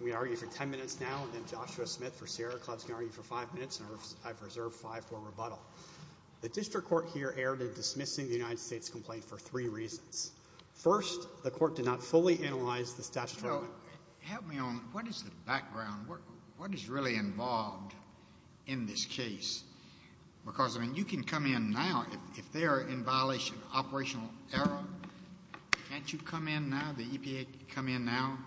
We argue for 10 minutes now and then Joshua Smith for Sierra Clubs can argue for five minutes and I've reserved five for rebuttal. The district court here erred in dismissing the United States complaint for three reasons. First, the court did not fully analyze the statute. Help me on what is the background what is really involved in this case because I mean you can come in now if they are in violation of operational error can't you come in now the EPA come in now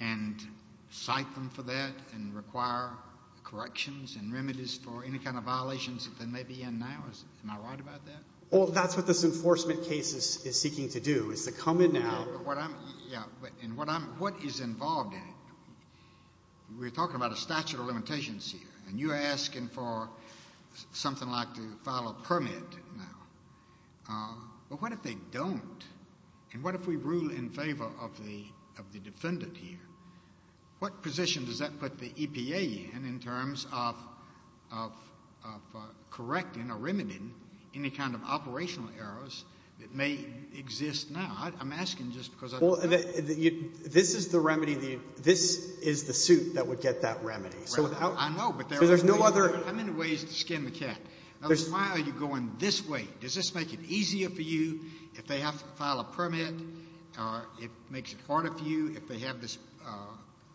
and cite them for that and require corrections and remedies for any kind of violations that they may be in now is am I right about that well that's what this enforcement case is seeking to do is to come in now what I'm yeah and what I'm what is involved in we're talking about a statute of limitations here and you're asking for something like to file a permit now but what if they don't and what if we rule in favor of the defendant here what position does that put the EPA in in terms of of of correcting or remedying any kind of operational errors that may exist now I'm asking just because well this is the remedy the this is the suit that would get that remedy so without I know but there's no other how many ways to skin the cat there's why are you going this way does this make it easier for you if they have to file a permit or it makes it harder for you if they have this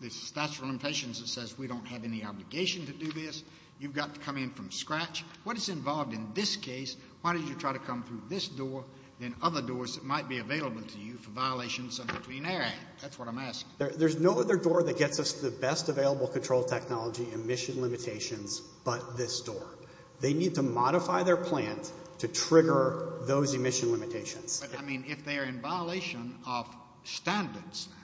this statute of limitations that says we don't have any obligation to do this you've got to come in from scratch what is involved in this case why did you try to come through this door and other doors that might be available to you for violations in between air that's what I'm asking there's no other door that gets us the best available control technology emission limitations but this door they need to modify their plant to trigger those emission limitations I mean if they are in violation of standards now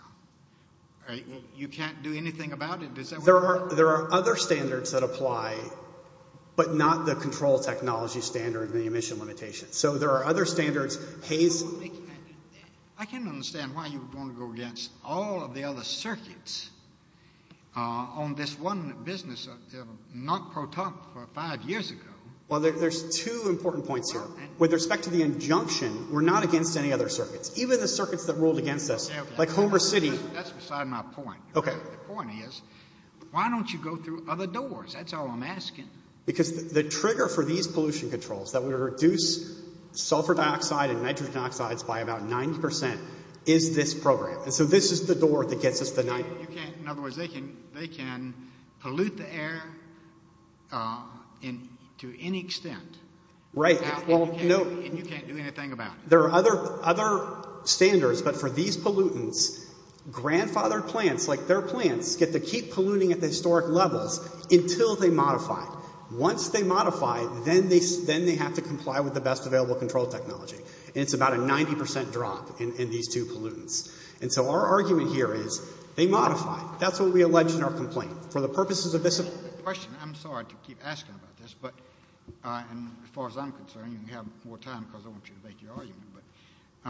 you can't do anything about it there are there are other standards that apply but not the control technology standard the emission limitations so there are other standards haze I can't understand why you want to go against all of the other circuits uh on this one business uh not pro top for five years ago well there's two important points here with respect to the injunction we're not against any other circuits even the circuits that ruled against us like homer city that's beside my point okay the point is why don't you go through other doors that's all I'm asking because the trigger for these pollution controls that would reduce sulfur dioxide and nitrogen oxides by about 90 is this program and so this is the door that gets us the night you can't in other words they can they can pollute the air uh in to any extent right well no and you can't do anything about it there are other other standards but for these pollutants grandfathered plants like their plants get to keep polluting at the historic levels until they modify once they modify then they then they have to comply with the best available control technology and it's about a 90 percent drop in these two pollutants and so our argument here is they modify that's what we allege in our complaint for the purposes of this question I'm sorry to keep asking about this but uh and as far as I'm concerned you can have more time because I want you to make your argument but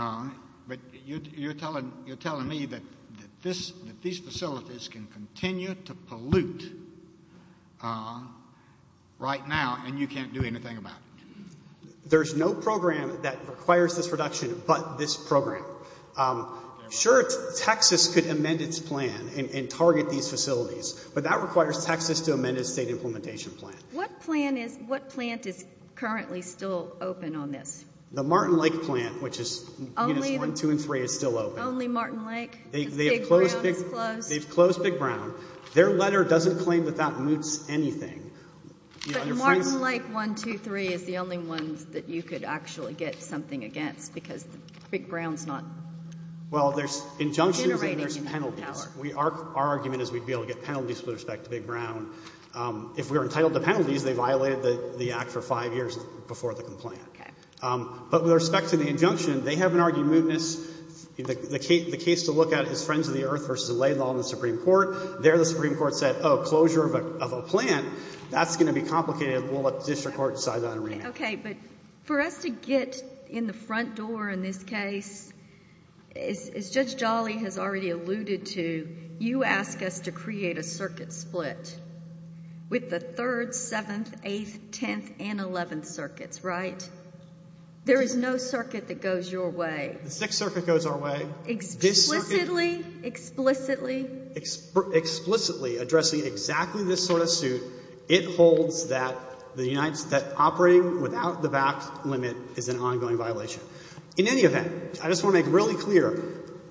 uh but you're telling you're telling me that that this that these facilities can continue to pollute uh right now and you can't do anything about it there's no program that requires this reduction but this program um sure texas could amend its plan and target these facilities but that requires texas to amend its state implementation plan what plan is what plant is currently still open on this the martin lake plant which is only one two and three is still open only martin lake they've closed big brown their letter doesn't claim that that moots anything but martin lake one two three is the only ones that you could actually get something against because big brown's not well there's injunction there's penalties we are our argument is we'd be able to get penalties with respect to big brown um if we're entitled to penalties they violated the the act for five years before the complaint okay um but with respect to the injunction they haven't argued mootness the case the case to look at is friends of the earth versus a lay law in the supreme court there the supreme court said oh closure of a of a plant that's going to be complicated we'll let the district court decide that okay but for us to get in the front door in this case as judge jolly has already alluded to you ask us to create a circuit split with the third seventh eighth tenth and eleventh circuits right there is no circuit that goes your way the sixth circuit goes our way explicitly explicitly explicitly addressing exactly this sort of suit it holds that the united operating without the back limit is an ongoing violation in any event i just want to make really clear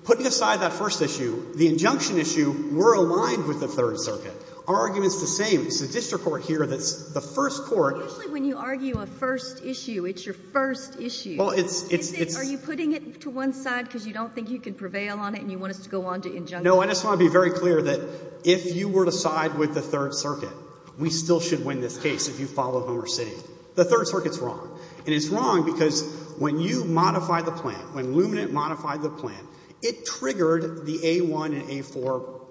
putting aside that first issue the injunction issue we're aligned with the third circuit our argument's the same it's the district court here that's the first court usually when you argue a first issue it's your first issue well it's it's are you putting it to one side because you don't think you can prevail on it and you want us to go on to injunction no i just want to be very clear that if you were to side with the third circuit we still should win this case if you follow homer city the third circuit's wrong and it's wrong because when you modify the plan when luminate modified the plan it triggered the a1 and a4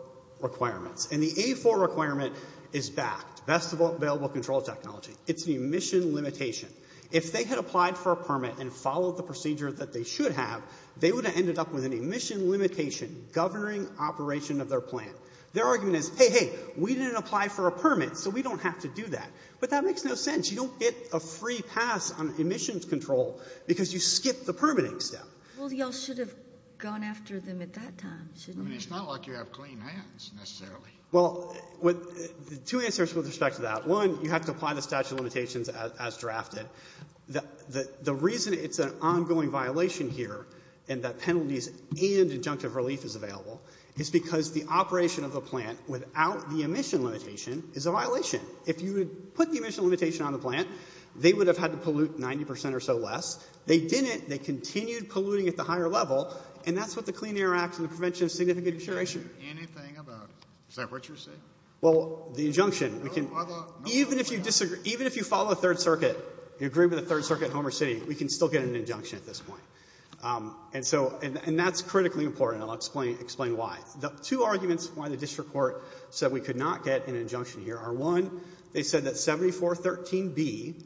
requirements and the a4 requirement is backed best available control technology it's an emission limitation if they had applied for a permit and followed the procedure that they should have they would have ended up with an emission limitation governing operation of their plan their argument is hey hey we didn't apply for a permit so we don't have to do that but that makes no sense you don't get a free pass on emissions control because you skip the permitting step well y'all should have gone after them at that time i mean it's not like you have clean hands necessarily well with two answers with respect to that one you have to apply the statute of limitations as drafted the the reason it's an ongoing violation here and that penalties and injunctive relief is available is because the operation of the plant without the emission limitation is a violation if you would put the emission limitation on the plant they would have had to pollute 90 or so less they didn't they continued polluting at the higher level and that's what the clean air act and the prevention of significant deterioration anything about is that what you're saying well the injunction we can even if you disagree even if you follow the third circuit you agree with the third circuit homer city we can still get an injunction at this point um and so and and that's critically important i'll explain explain why the two arguments why the district court said we could not get an injunction here are one they said that 7413b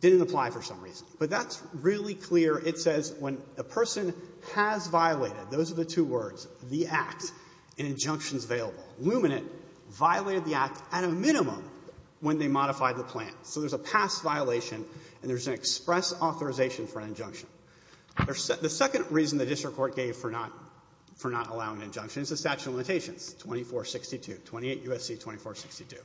didn't apply for some reason but that's really clear it says when a person has violated those are the two words the act and injunctions available luminate violated the act at a minimum when they modified the plant so there's a past violation and there's an express authorization for an injunction there's the second reason the district court gave for not for not allowing injunction is the statute of limitations 2462 28 usc 2462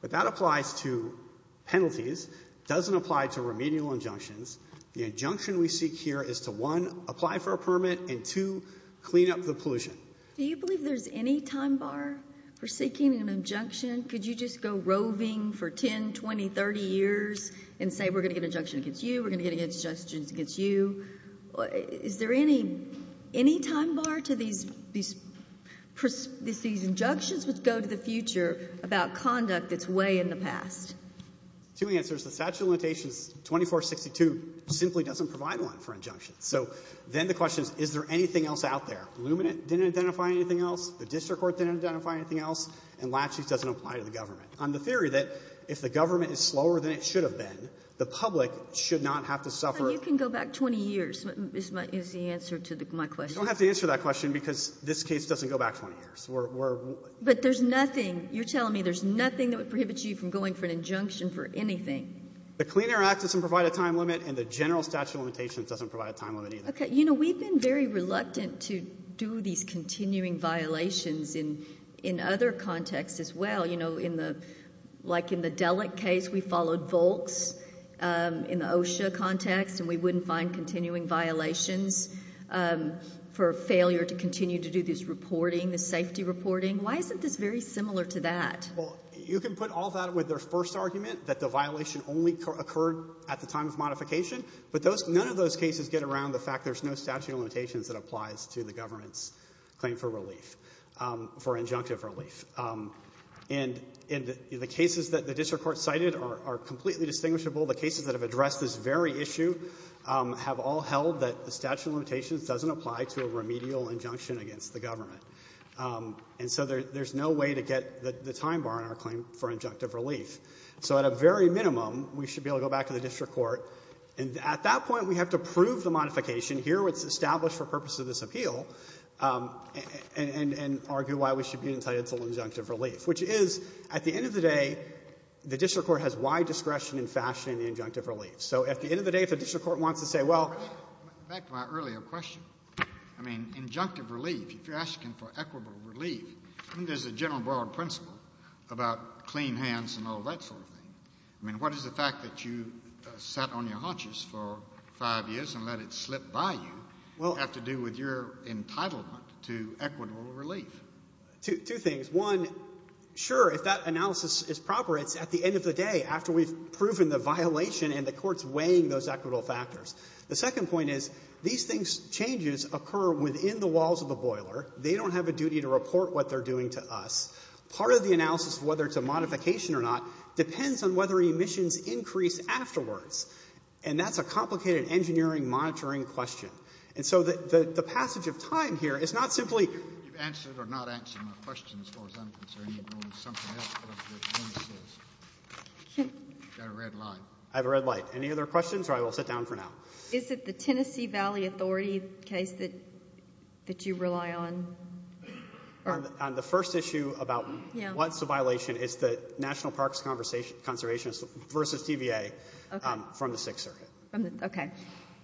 but that applies to penalties doesn't apply to remedial injunctions the injunction we seek here is to one apply for a permit and to clean up the pollution do you believe there's any time bar for seeking an injunction could you just go roving for 10 20 30 years and say we're going to get injunction against you we're going to get against justice against you is there any any time bar to these these these injunctions would go to the future about conduct that's way in the past two answers the statute limitations 2462 simply doesn't provide one for injunctions so then the question is is there anything else out there luminate didn't identify anything else the district court didn't identify anything else and latches doesn't apply to the government on the theory that if the government is slower than it should have been the public should not have to suffer you can go back 20 years is my is the answer to the my question don't have to answer that question because this case doesn't go back 20 years we're but there's nothing you're telling me there's nothing that prohibits you from going for an injunction for anything the Clean Air Act doesn't provide a time limit and the general statute limitations doesn't provide a time limit either okay you know we've been very reluctant to do these continuing violations in in other contexts as well you know in the like in the delicate case we followed volks in the OSHA context and we wouldn't find continuing violations for failure to continue to do this reporting the safety reporting why you can put all that with their first argument that the violation only occurred at the time of modification but those none of those cases get around the fact there's no statute of limitations that applies to the government's claim for relief for injunctive relief and in the cases that the district court cited are completely distinguishable the cases that have addressed this very issue have all held that the statute of limitations doesn't apply to a remedial injunction against the government and so there's no way to get the time bar in our claim for injunctive relief so at a very minimum we should be able to go back to the district court and at that point we have to prove the modification here what's established for purpose of this appeal um and and argue why we should be entitled to injunctive relief which is at the end of the day the district court has wide discretion in fashion in the injunctive relief so at the end of the day if the district court wants to say well back to my earlier question i mean injunctive relief if you're asking for equitable relief i think there's a general broad principle about clean hands and all that sort of thing i mean what is the fact that you sat on your haunches for five years and let it slip by you well have to do with your entitlement to equitable relief two things one sure if that analysis is proper it's at the end of the day after we've proven the violation and the court's weighing those equitable factors the second point is these things changes occur within the walls of the boiler they have a duty to report what they're doing to us part of the analysis whether it's a modification or not depends on whether emissions increase afterwards and that's a complicated engineering monitoring question and so the the passage of time here is not simply you've answered or not answered my question as far as i'm concerned you've known something else got a red light i have a red light any other questions or i will sit down for now is it the tennessee valley authority case that that you rely on on the first issue about what's the violation is the national parks conversation conservationist versus tva from the sixth circuit okay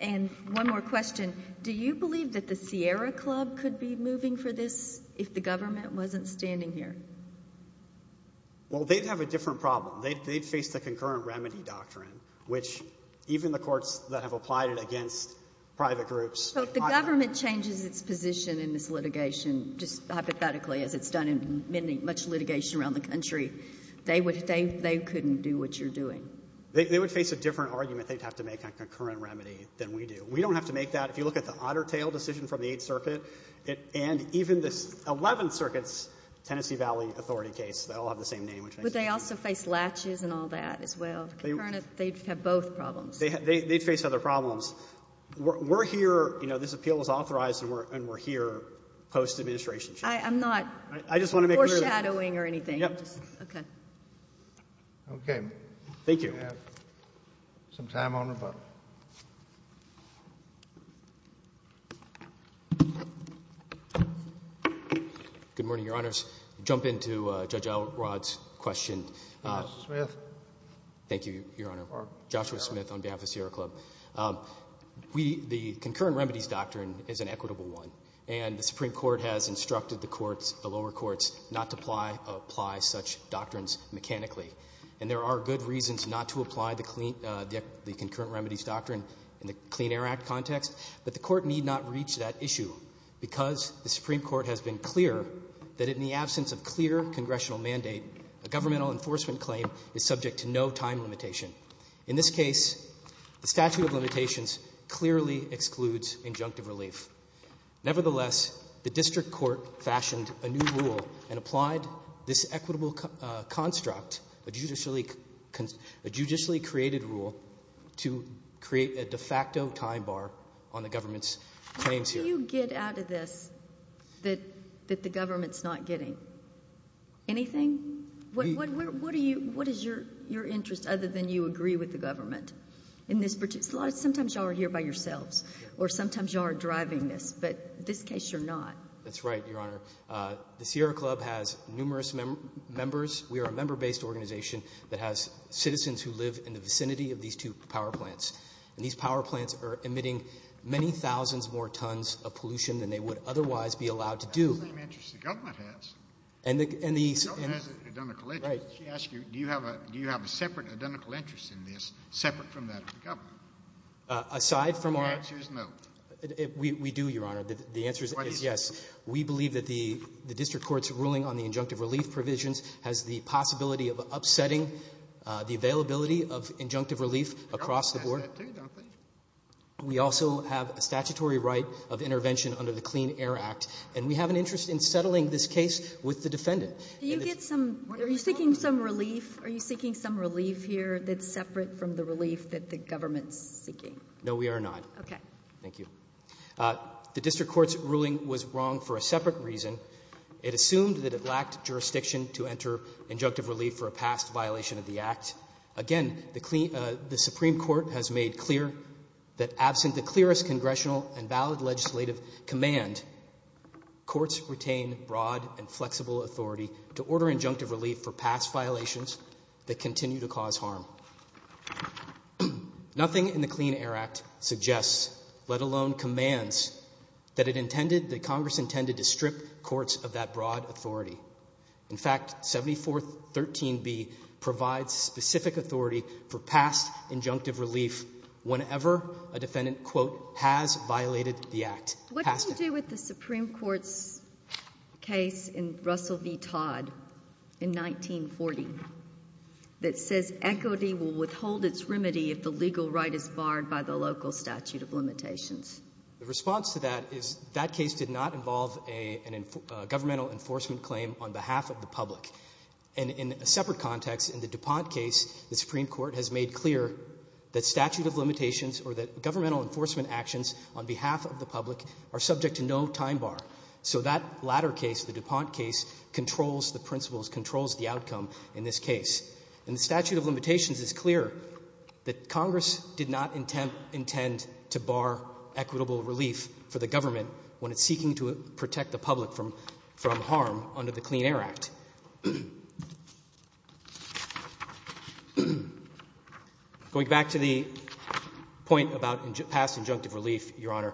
and one more question do you believe that the sierra club could be moving for this if the government wasn't standing here well they'd have a different problem they'd face the concurrent remedy doctrine which even the courts that have applied it against private groups the government changes its position in this litigation just hypothetically as it's done in many much litigation around the country they would they they couldn't do what you're doing they would face a different argument they'd have to make a concurrent remedy than we do we don't have to make that if you look at the otter tail decision from the eighth circuit it and even this 11th circuit's tennessee valley authority case they all have the same name which they also face latches and all that as well they'd have both problems they'd face other problems we're here you know this appeal is authorized and we're and we're here post administration i'm not i just want to make foreshadowing or anything okay okay thank you have some time on the button uh good morning your honors jump into uh judge elrod's question uh smith thank you your honor joshua smith on behalf of the sierra club um we the concurrent remedies doctrine is an equitable one and the supreme court has instructed the courts the lower courts not to apply apply such doctrines mechanically and there are good reasons not to apply the clean uh the concurrent remedies doctrine in the clean air act context but the court need not reach that issue because the supreme court has been clear that in the absence of clear congressional mandate a governmental enforcement claim is subject to no time limitation in this case the statute of limitations clearly excludes injunctive relief nevertheless the district court fashioned a new rule and applied this equitable uh construct a judicially a judicially created rule to create a de facto time bar on the government's claims here you get out of this that that the government's not getting anything what what are you what is your your interest other than you agree with the government in this particular sometimes you are here by yourselves or sometimes you are driving this but this case you're not that's right your honor uh the sierra club has numerous members we are a member-based organization that has citizens who live in the vicinity of these two power plants and these power plants are emitting many thousands more tons of pollution than they would otherwise be allowed to do the same interest the government has and the and the government has identical right she asked you do you have a do you have a separate identical interest in this separate from that of the government uh aside from our answers no we we do your honor the answer is yes we believe that the the district court's ruling on the injunctive relief provisions has the possibility of upsetting uh the availability of injunctive relief across the board we also have a statutory right of intervention under the clean air act and we have an interest in settling this case with the defendant do you get some are you seeking some relief are you separate from the relief that the government's seeking no we are not okay thank you uh the district court's ruling was wrong for a separate reason it assumed that it lacked jurisdiction to enter injunctive relief for a past violation of the act again the clean the supreme court has made clear that absent the clearest congressional and valid legislative command courts retain broad and flexible authority to order injunctive relief for past violations that continue to cause harm nothing in the clean air act suggests let alone commands that it intended that congress intended to strip courts of that broad authority in fact 74 13b provides specific authority for past injunctive relief whenever a defendant quote has violated the act what do you do with the supreme court's case in russell v todd in 1940 that says equity will withhold its remedy if the legal right is barred by the local statute of limitations the response to that is that case did not involve a an governmental enforcement claim on behalf of the public and in a separate context in the dupont case the supreme court has made clear that statute of limitations or that governmental enforcement actions on behalf of the public are subject to no time bar so that latter case the dupont case controls the principles controls the outcome in this case and the statute of limitations is clear that congress did not intend intend to bar equitable relief for the government when it's seeking to protect the public from harm under the clean air act going back to the point about past injunctive relief your honor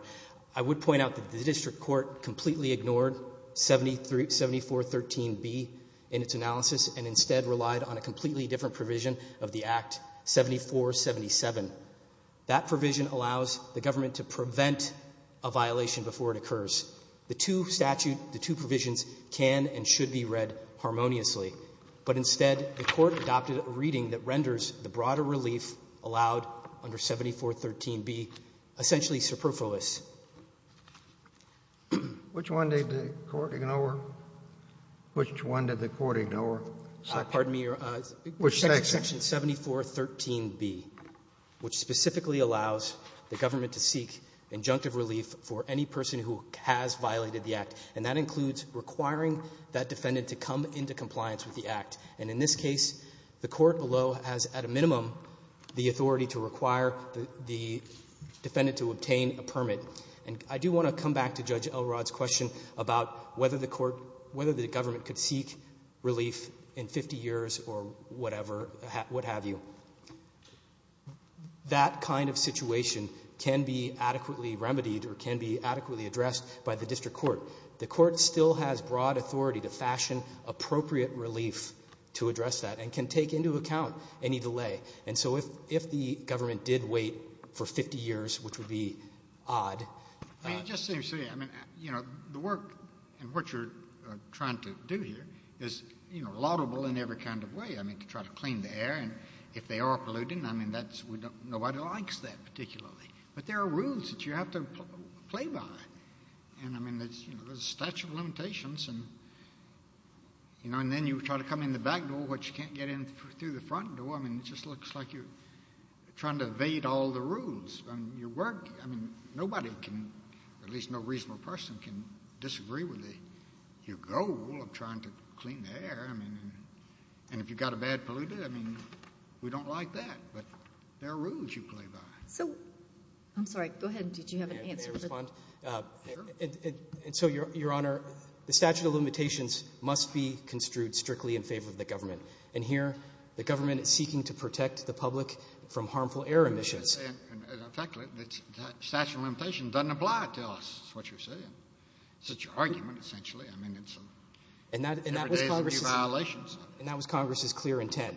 i would point out that the district court completely ignored 73 74 13b in its analysis and instead relied on a completely different provision of the act 74 77 that provision allows the government to prevent a violation before it occurs the two statute the two provisions can and should be read harmoniously but instead the court adopted a reading that renders the broader relief allowed under 74 13b essentially superfluous which one did the court ignore which one did the court ignore pardon me uh section 74 13b which specifically allows the government to seek injunctive relief for any person who has violated the act and that includes requiring that defendant to come into compliance with the act and in this case the court below has at a minimum the authority to require the defendant to obtain a permit and i do want to come back to judge elrod's question about whether the court whether the government could seek relief in 50 years or whatever what have you that kind of situation can be adequately remedied or can be adequately addressed by the district court the court still has broad authority to fashion appropriate relief to address that and can take into account any delay and so if if the government did wait for 50 years which would be odd you just seem to say i mean you know the work and what you're trying to do here is you know laudable in every kind of way i mean to try to clean the air and if they are polluting i mean nobody likes that particularly but there are rules that you have to play by and i mean there's you know there's a statute of limitations and you know and then you try to come in the back door which you can't get in through the front door i mean it just looks like you're trying to evade all the rules and your work i mean nobody can at least no reasonable person can disagree with the your goal of trying to clean the air i mean and if you've got a bad polluter i mean we don't like that but there are rules you play by so i'm sorry go ahead did you have an answer to respond and so your your honor the statute of limitations must be construed strictly in favor of the government and here the government is seeking to protect the public from harmful air emissions statute of limitations doesn't apply tell us what you're saying such an argument essentially i mean it's and that and that was congress violations and that was congress's clear intent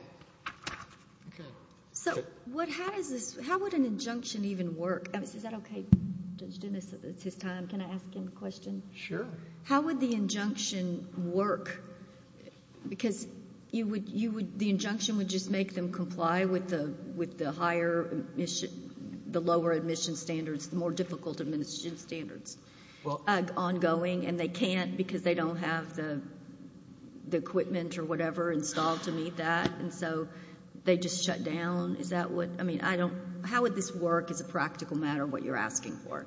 okay so what how does this how would an injunction even work is that okay judge dennis it's his time can i ask him a question sure how would the injunction work because you would you would the injunction would just make them comply with the with the higher mission the lower admission standards the more difficult administration well ongoing and they can't because they don't have the the equipment or whatever installed to meet that and so they just shut down is that what i mean i don't how would this work as a practical matter what you're asking for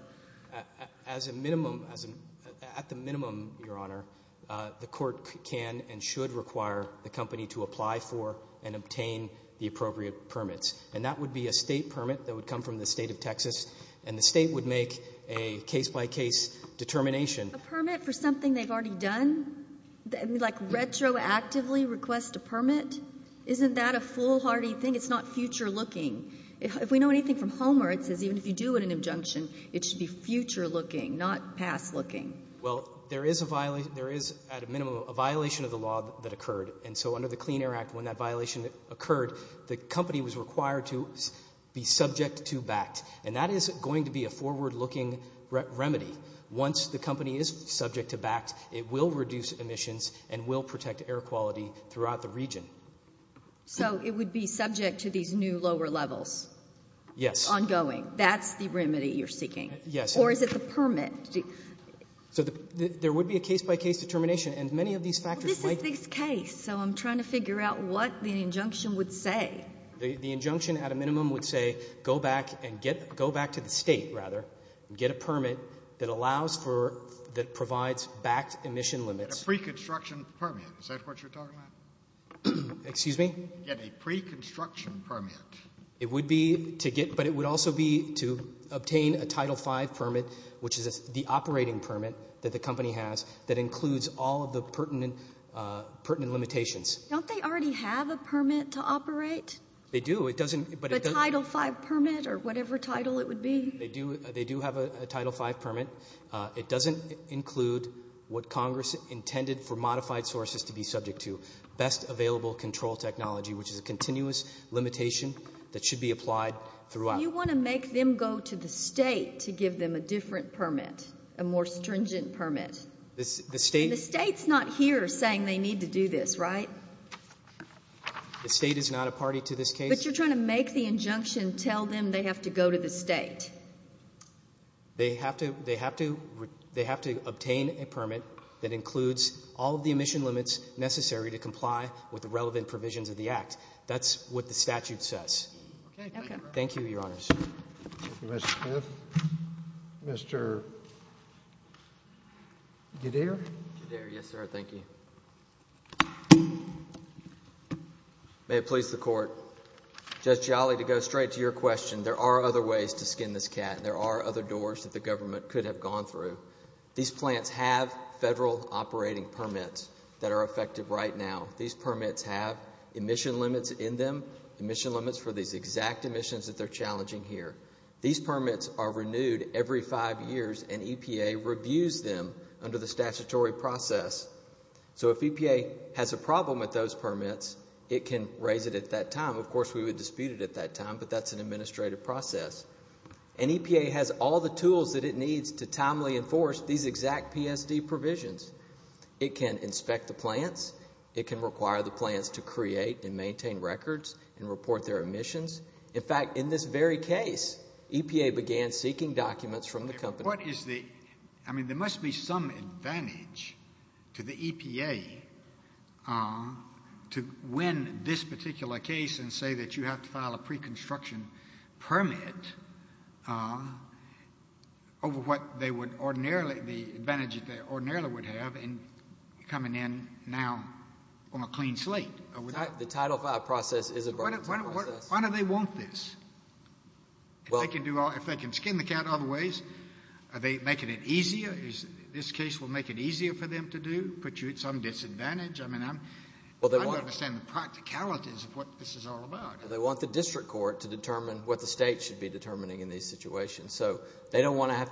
as a minimum as a at the minimum your honor uh the court can and should require the company to apply for and obtain the appropriate permits and that would be a state case-by-case determination a permit for something they've already done like retroactively request a permit isn't that a foolhardy thing it's not future looking if we know anything from homer it says even if you do an injunction it should be future looking not past looking well there is a violation there is at a minimum a violation of the law that occurred and so under the clean air act when that violation occurred the company was required to be subject to backed and that is going to be a forward-looking remedy once the company is subject to backed it will reduce emissions and will protect air quality throughout the region so it would be subject to these new lower levels yes ongoing that's the remedy you're seeking yes or is it the permit so there would be a case-by-case determination and many of these factors this is this case so i'm trying to figure out what the injunction would say the the injunction at a go back to the state rather and get a permit that allows for that provides backed emission limits a pre-construction permit is that what you're talking about excuse me get a pre-construction permit it would be to get but it would also be to obtain a title 5 permit which is the operating permit that the company has that includes all of the pertinent pertinent limitations don't they already have a permit to operate they do it doesn't but a title 5 permit or whatever title it would be they do they do have a title 5 permit uh it doesn't include what congress intended for modified sources to be subject to best available control technology which is a continuous limitation that should be applied throughout you want to make them go to the state to give them a different permit a more stringent permit this the state the state's not here saying they need to do this right the state is not a party to this case but you're trying to make the injunction tell them they have to go to the state they have to they have to they have to obtain a permit that includes all of the emission limits necessary to comply with the relevant provisions of the act that's what the may it please the court just jolly to go straight to your question there are other ways to skin this cat there are other doors that the government could have gone through these plants have federal operating permits that are effective right now these permits have emission limits in them emission limits for these exact emissions that they're challenging here these permits are renewed every five years and epa reviews them under the statutory process so if epa has a problem with those permits it can raise it at that time of course we would dispute it at that time but that's an administrative process and epa has all the tools that it needs to timely enforce these exact psd provisions it can inspect the plants it can require the plants to create and maintain records and report their emissions in fact in this very case epa began seeking documents from the company what is the i mean there must be some advantage to the epa uh to win this particular case and say that you have to file a pre-construction permit uh over what they would ordinarily the advantage that they ordinarily would have in coming in now on a clean slate the title file process is why do they want this well they can do all if they can skin the cat other ways are they making it easier is this case will make it easier for them to do put you at some disadvantage i mean i'm well they want to understand the practicalities of what this is all about they want the district court to determine what the state should be determining in these situations so they don't want to have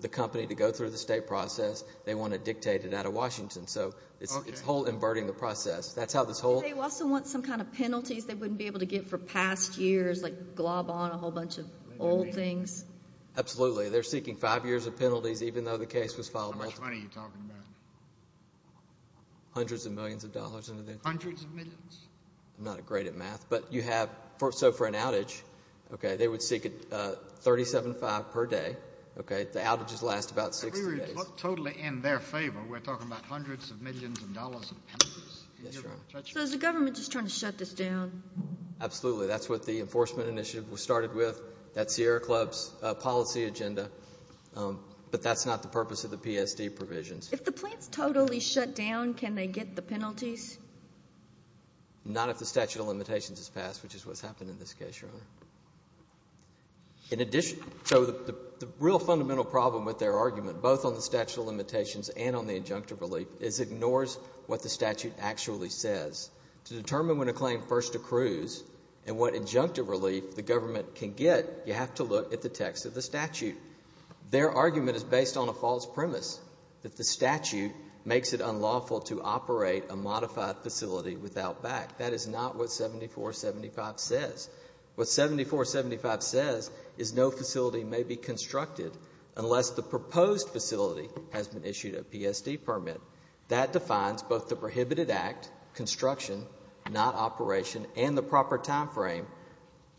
the company to go through the state process they want to dictate it out of washington so it's whole inverting the process that's how this whole they also want some kind of penalties they wouldn't be able to get for past years like glob on a whole bunch of old things absolutely they're seeking five years of penalties even though the case was filed how much money you're talking about hundreds of millions of dollars into the hundreds of millions i'm not great at math but you have for so for an outage okay they would seek it uh thirty seven five per day okay the outages last about six days totally in their favor we're talking about hundreds of millions of dollars yes so is the government just trying to shut this down absolutely that's what the enforcement initiative was started with that's the air club's policy agenda but that's not the purpose of the psd provisions if the plants totally shut down can they get the penalties not if the statute of limitations is passed which is what's happened in this case your honor in addition so the real fundamental problem with their argument both on the statute of limitations and on the injunctive is ignores what the statute actually says to determine when a claim first accrues and what injunctive relief the government can get you have to look at the text of the statute their argument is based on a false premise that the statute makes it unlawful to operate a modified facility without back that is not what 74 75 says what 74 75 says is no facility may be constructed unless the proposed facility has been issued a psd permit that defines both the prohibited act construction not operation and the proper time frame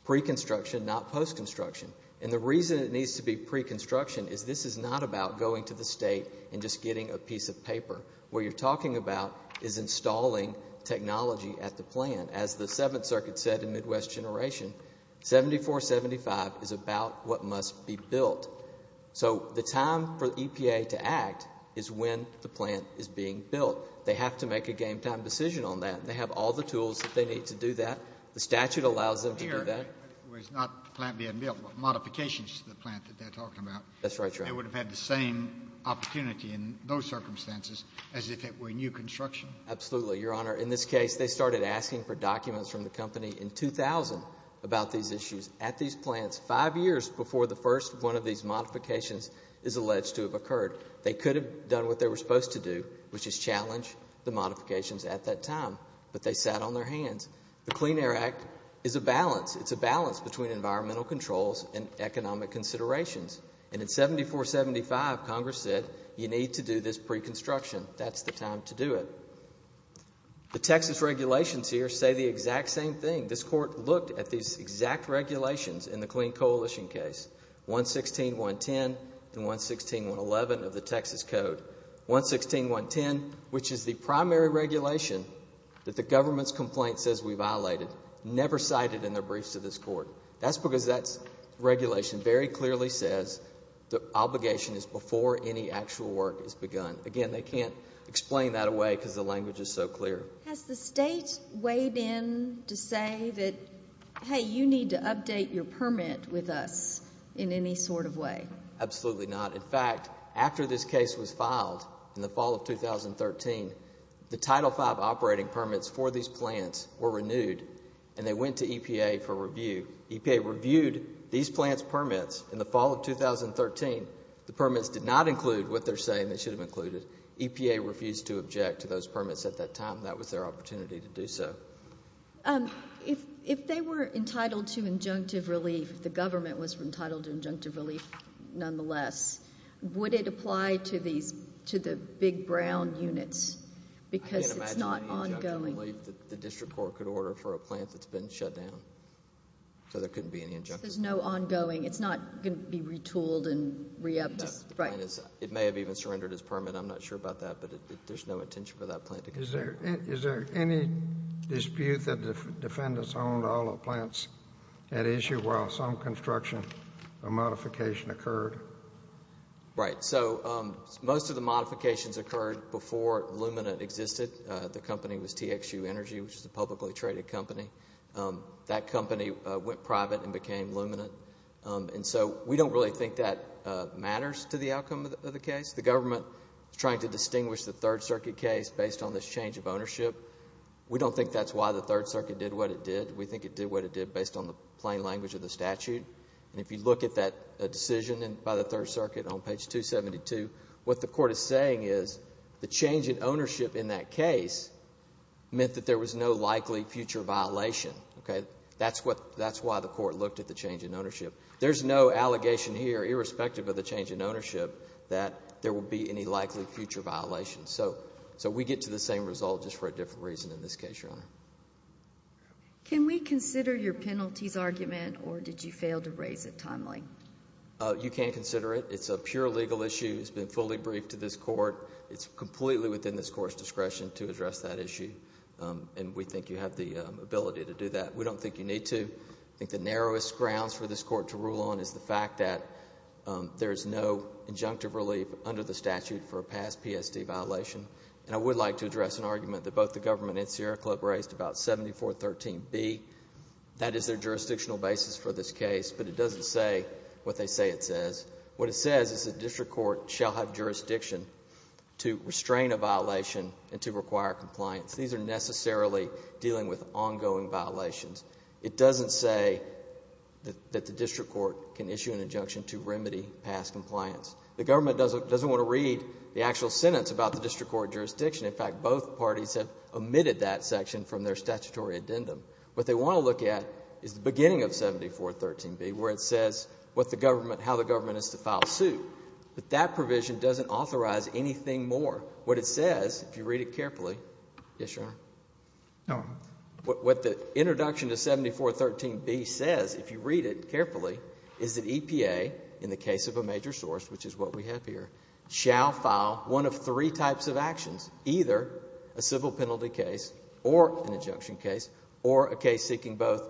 pre-construction not post-construction and the reason it needs to be pre-construction is this is not about going to the state and just getting a piece of paper what you're talking about is installing technology at the plan as the seventh circuit said in midwest generation 74 75 is about what must be built so the time for epa to act is when the plant is being built they have to make a game time decision on that they have all the tools that they need to do that the statute allows them to do that was not the plant being built but modifications to the plant that they're talking about that's right they would have had the same opportunity in those circumstances as if it were new construction absolutely your they started asking for documents from the company in 2000 about these issues at these plants five years before the first one of these modifications is alleged to have occurred they could have done what they were supposed to do which is challenge the modifications at that time but they sat on their hands the clean air act is a balance it's a balance between environmental controls and economic considerations and in 74 75 congress said you need to do this pre-construction that's the time to do it the texas regulations here say the exact same thing this court looked at these exact regulations in the clean coalition case 116 110 and 116 111 of the texas code 116 110 which is the primary regulation that the government's complaint says we violated never cited in their briefs to this court that's because that's regulation very clearly says the explain that away because the language is so clear has the state weighed in to say that hey you need to update your permit with us in any sort of way absolutely not in fact after this case was filed in the fall of 2013 the title 5 operating permits for these plants were renewed and they went to epa for review epa reviewed these plants permits in the fall of 2013 the permits did not include what they're saying they should have included epa refused to object to those permits at that time that was their opportunity to do so um if if they were entitled to injunctive relief the government was entitled to injunctive relief nonetheless would it apply to these to the big brown units because it's not ongoing that the district court could order for a plant that's been shut down so there couldn't be any injunctive there's no ongoing it's not going to be retooled and re-upped right it may have even surrendered his permit i'm not sure about that but there's no intention for that plant is there is there any dispute that the defendants owned all the plants at issue while some construction or modification occurred right so um most of the modifications occurred before lumina existed uh the company was txu energy which is a publicly traded company that company went private and became lumina and so we don't really think that matters to the outcome of the case the government is trying to distinguish the third circuit case based on this change of ownership we don't think that's why the third circuit did what it did we think it did what it did based on the plain language of the statute and if you look at that decision and by the third circuit on page 272 what the court is saying is the change in ownership in that case meant that there was no likely future violation okay that's what that's why the court looked at the change in ownership there's no allegation here irrespective of the change in ownership that there will be any likely future violations so so we get to the same result just for a different reason in this case your honor can we consider your penalties argument or did you fail to raise it timely uh you can't consider it it's a pure legal issue it's been fully briefed to this court it's completely within this court's discretion to address that issue and we think you have the ability to do that we don't think you need to i think the narrowest grounds for this court to rule on is the fact that there is no injunctive relief under the statute for a past psd violation and i would like to address an argument that both the government and sierra club raised about 7413 b that is their jurisdictional basis for this case but it doesn't say what they say it says what it says is the district court shall have jurisdiction to restrain a violation and to require compliance these are necessarily dealing with ongoing violations it doesn't say that the district court can issue an injunction to remedy past compliance the government doesn't doesn't want to read the actual sentence about the district court jurisdiction in fact both parties have omitted that section from their statutory addendum what they want to look at is the beginning of 7413 b where it says what the government how the government is to file suit but that provision doesn't authorize anything more what it says if you read it carefully yes your honor no what the introduction to 7413 b says if you read it carefully is that epa in the case of a major source which is what we have here shall file one of three types of actions either a civil penalty case or an injunction case or a case seeking both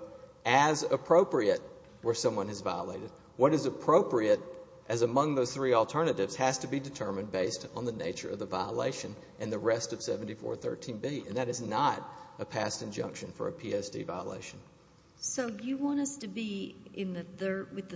as appropriate where someone has violated what is appropriate as among those three alternatives has to be determined based on the nature of the violation and the rest of 7413 b and that is not a past injunction for a psd violation so you want us to be in the third with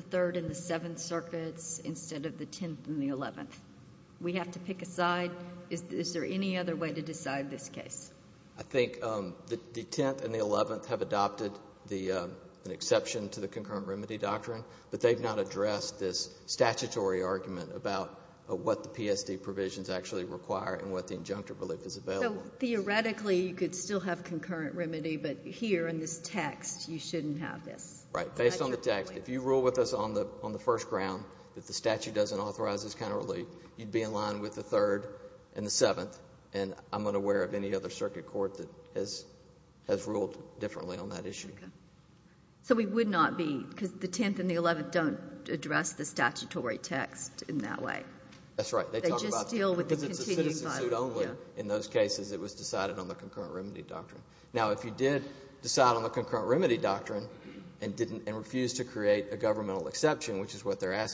we have to pick a side is there any other way to decide this case i think um the 10th and the 11th have adopted the um an exception to the concurrent remedy doctrine but they've not addressed this statutory argument about what the psd provisions actually require and what the injunctive relief is available theoretically you could still have concurrent remedy but here in this text you shouldn't have this right based on the text if you rule with us on the on the first ground that statute doesn't authorize this kind of relief you'd be in line with the third and the seventh and i'm unaware of any other circuit court that has has ruled differently on that issue so we would not be because the 10th and the 11th don't address the statutory text in that way that's right they just deal with it in those cases it was decided on the concurrent remedy doctrine now if you did decide on the concurrent remedy doctrine and didn't and refused to create a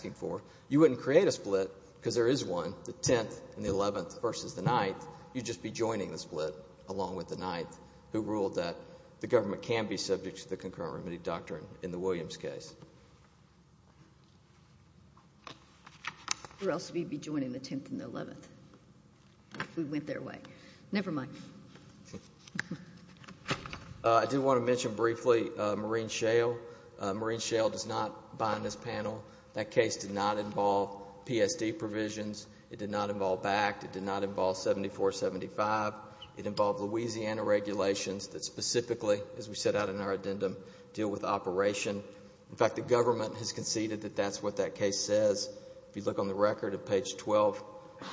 you wouldn't create a split because there is one the 10th and the 11th versus the 9th you'd just be joining the split along with the 9th who ruled that the government can be subject to the concurrent remedy doctrine in the williams case or else we'd be joining the 10th and the 11th if we went their way never mind uh i did want to mention briefly uh marine shale marine shale does not bind this panel that case did not involve psd provisions it did not involve backed it did not involve 74 75 it involved louisiana regulations that specifically as we set out in our addendum deal with operation in fact the government has conceded that that's what that case says if you look on the record at page 12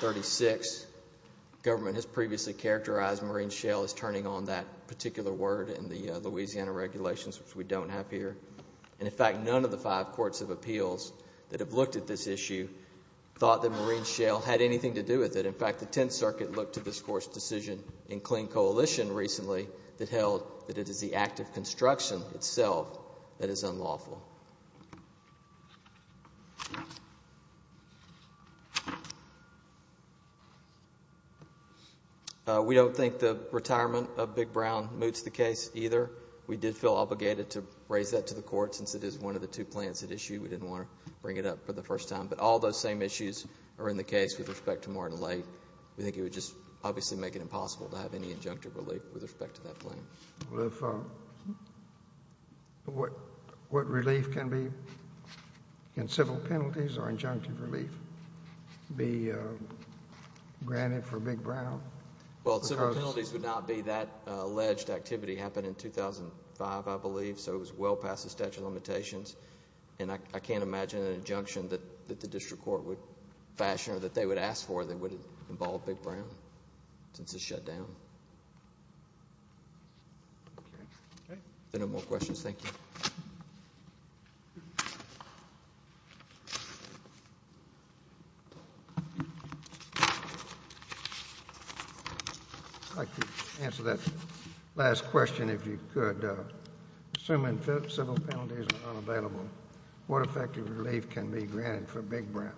36 government has previously characterized marine shale as turning on that particular word in the louisiana regulations which we don't have here and in fact none of the five courts of appeals that have looked at this issue thought that marine shale had anything to do with it in fact the 10th circuit looked to this course decision in clean coalition recently that held that it is the act of construction itself that is unlawful we don't think the retirement of big brown moots the case either we did feel obligated to raise that to the court since it is one of the two plans at issue we didn't want to bring it up for the first time but all those same issues are in the case with respect to martin late we think it would just obviously make it impossible to have any injunctive relief with respect to that claim well if uh what what relief can be in civil penalties or injunctive relief be uh granted for big brown well several penalties would not be that alleged activity happened in 2005 i believe so it was well past the statute of limitations and i can't imagine an injunction that that the district court would fashion or that they would ask for that would involve big brown since it's shut down okay no more questions thank you i'd like to answer that last question if you could uh assuming civil penalties are unavailable what effective relief can be granted for big brown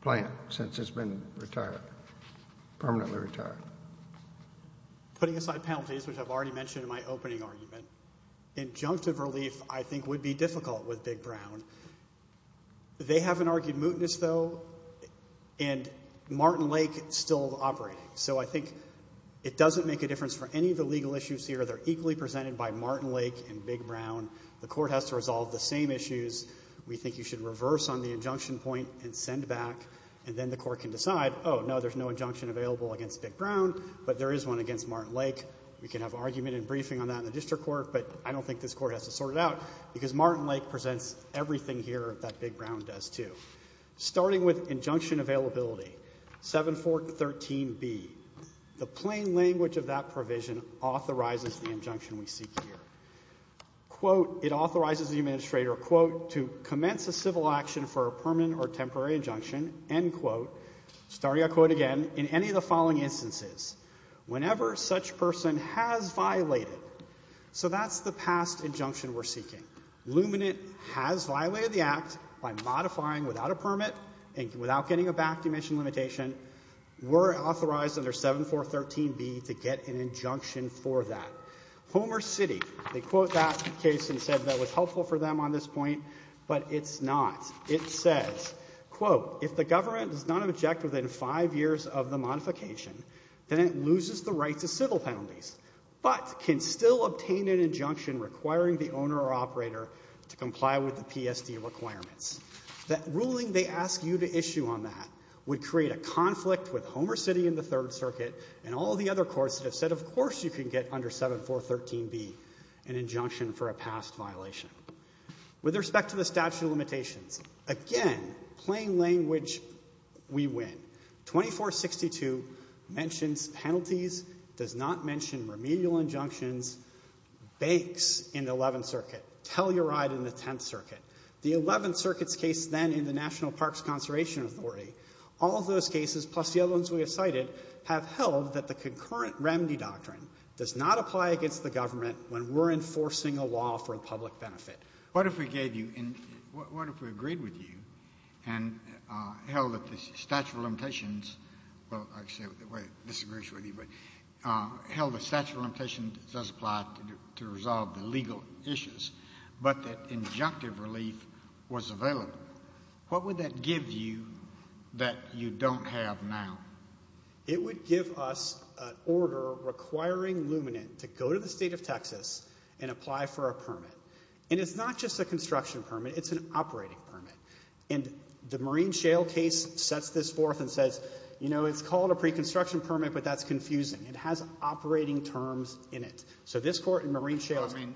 plant since it's been retired permanently retired putting aside penalties which i've already mentioned in my opening argument injunctive relief i think would be difficult with big brown they haven't argued mootness though and martin lake still operating so i think it doesn't make a difference for any of the legal issues here they're equally presented by martin lake and big brown the court has to resolve the same issues we think you should reverse on the injunction point and send back and then the court can decide oh no there's no injunction available against big brown but there is one against martin lake we can have argument and briefing on that in the district court but i don't think this court has to sort it out because martin lake presents everything here that big brown does too starting with injunction availability 7 4 13 b the plain language of that provision authorizes the injunction we seek here quote it authorizes the administrator quote to commence a civil action for a permanent or temporary injunction end quote starting i quote again in any of the following instances whenever such person has violated so that's the past injunction we're seeking luminate has violated the act by modifying without a permit and without getting a back dimension limitation we're authorized under 7 4 13 b to get an injunction for that homer city they quote that case and said that was helpful for them on this point but it's not it says quote if the government does not object within five years of the modification then it loses the right to civil penalties but can still obtain an injunction requiring the owner or operator to comply with the psd requirements that ruling they ask you to issue on that would create a conflict with homer city in the third circuit and all the other courts that have said of course you can get under 7 4 13 b an injunction for a past violation with respect to the statute of limitations again plain language we win 2462 mentions penalties does not mention remedial injunctions banks in the 11th circuit tell your ride in the 10th circuit the 11th circuit's case then in the national parks conservation authority all those cases plus the other ones we have cited have held that the concurrent remedy doctrine does not apply against the government when we're enforcing a law for a public benefit what if we gave you in what if we agreed with you and uh held that the statute of limitations well actually the way disagrees with you but uh held the statute of limitations does apply to resolve the legal issues but that injunctive relief was available what would that give you that you don't have now it would give us an order requiring luminant to go to the state of texas and apply for a permit and it's not just a construction permit it's an operating permit and the marine shale case sets this forth and says you know it's called a pre-construction permit but that's confusing it has operating terms in it so this court in marine shale i mean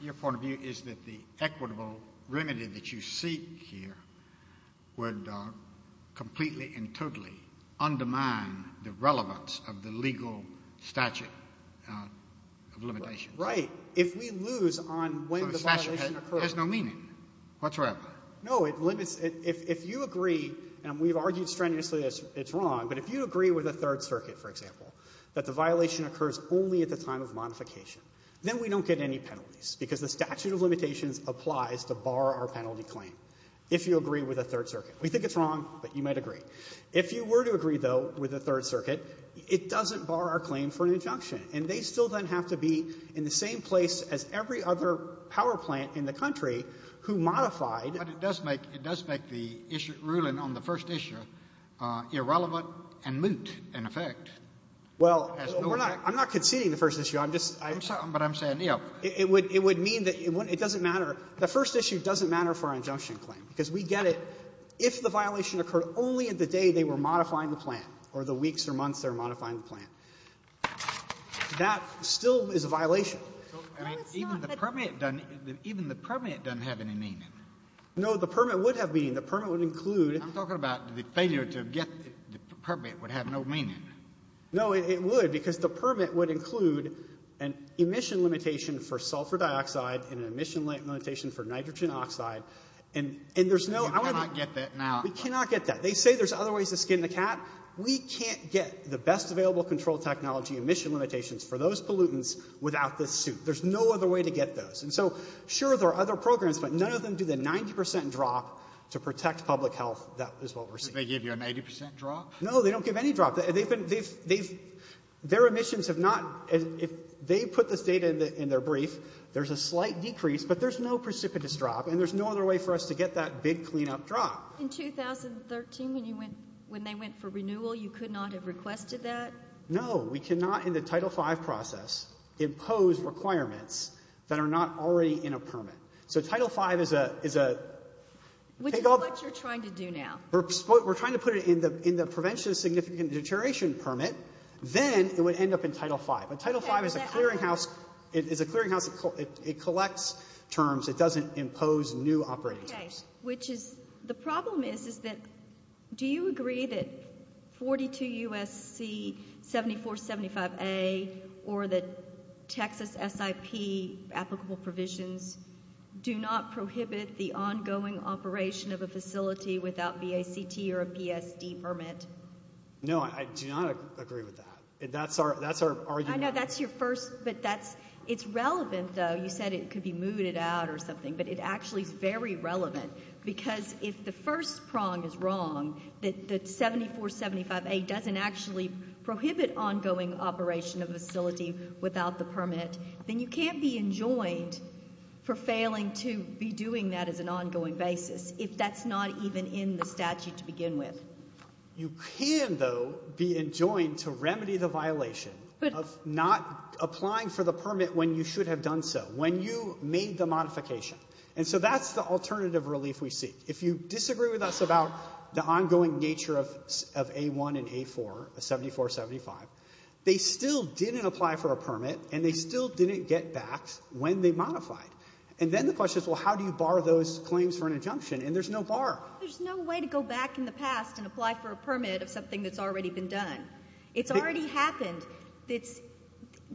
your point of view is that the equitable remedy that you seek here would completely and totally undermine the relevance of the legal statute of limitations right if we lose on when the violation occurs there's no meaning whatsoever no it limits if if you agree and we've argued strenuously it's wrong but if you agree with the third circuit for example that the violation occurs only at the time of modification then we don't get any penalties because the statute of limitations applies to bar our penalty claim if you agree with a third circuit we think it's wrong but you might agree if you were to agree though with the third circuit it doesn't bar our claim for an injunction and they still then have to be in the same place as every other power plant in the country who modified but it does make it does make the issue ruling on the first issue uh irrelevant and moot in effect well we're i'm not conceding the first issue i'm just i'm something but i'm saying you know it would it would mean that it wouldn't it doesn't matter the first issue doesn't matter for an injunction claim because we get it if the violation occurred only at the day they were modifying the plant or the weeks or months they're modifying the plant that still is a violation even the permit doesn't have any meaning no the permit would have meaning the permit would include i'm talking about the failure to get the permit would have no meaning no it would because the permit would include an emission limitation for sulfur dioxide and an emission limitation for nitrogen oxide and and there's no i want to get that now we cannot get that they say there's other ways to skin the cat we can't get the best available control technology emission limitations for those pollutants without this suit there's no other way to get those and so sure there are other programs but none of them do the 90 drop to protect public health that is they give you an 80 drop no they don't give any drop they've been they've they've their emissions have not if they put this data in their brief there's a slight decrease but there's no precipitous drop and there's no other way for us to get that big cleanup drop in 2013 when you went when they went for renewal you could not have requested that no we cannot in the title 5 process impose requirements that are not already in a permit so title 5 is a is a what you're trying to do now we're trying to put it in the in the prevention of significant deterioration permit then it would end up in title 5 but title 5 is a clearinghouse it is a clearinghouse it collects terms it doesn't impose new operating terms which is the problem is is that do you agree that 42 usc 74 75a or that texas sip applicable provisions do not prohibit the ongoing operation of a facility without vact or a psd permit no i do not agree with that that's our that's our argument i know that's your first but that's it's relevant though you said it could be mooted out or something but it actually is very relevant because if the first prong is wrong that the 74 75a doesn't actually prohibit ongoing operation of facility without the permit then you can't be enjoined for failing to be doing that as an ongoing basis if that's not even in the statute to begin with you can though be enjoined to remedy the violation of not applying for the permit when you should have done so when you made the modification and so that's the alternative relief we seek if you disagree with us about the ongoing nature of of a1 and a4 a 74 75 they still didn't apply for a permit and they still didn't get back when they modified and then the question is well how do you bar those claims for an injunction and there's no bar there's no way to go back in the past and apply for a permit of something that's already been done it's already happened it's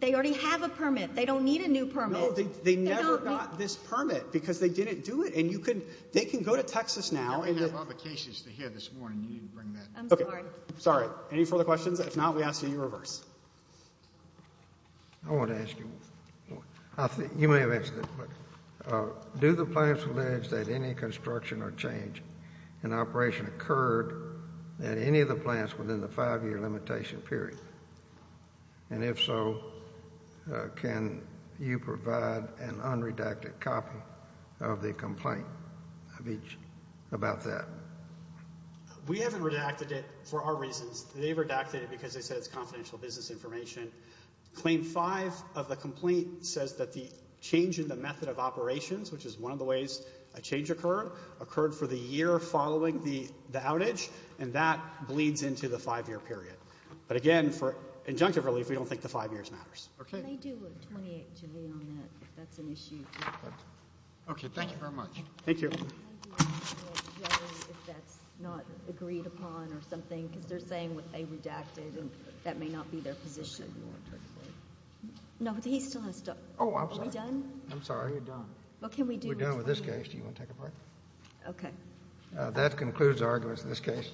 they already have a permit they don't need a new permit they never got this permit because they didn't do it and you can they can go to texas now and have other cases to hear this morning you didn't bring okay sorry any further questions if not we ask you to reverse i want to ask you i think you may have answered it but uh do the plans allege that any construction or change in operation occurred at any of the plants within the five-year limitation period and if so can you provide an unredacted copy of the complaint of each about that we haven't redacted it for our reasons they've redacted it because they said it's confidential business information claim five of the complaint says that the change in the method of operations which is one of the ways a change occurred occurred for the year following the the outage and that bleeds into the five-year period but again for injunctive relief we don't think the five years okay can they do a 28 to me on that if that's an issue okay thank you very much thank you if that's not agreed upon or something because they're saying what they redacted and that may not be their position no but he's still gonna stop oh are we done i'm sorry you're done what can we do we're done with this case do you want to take a break okay uh that concludes our this case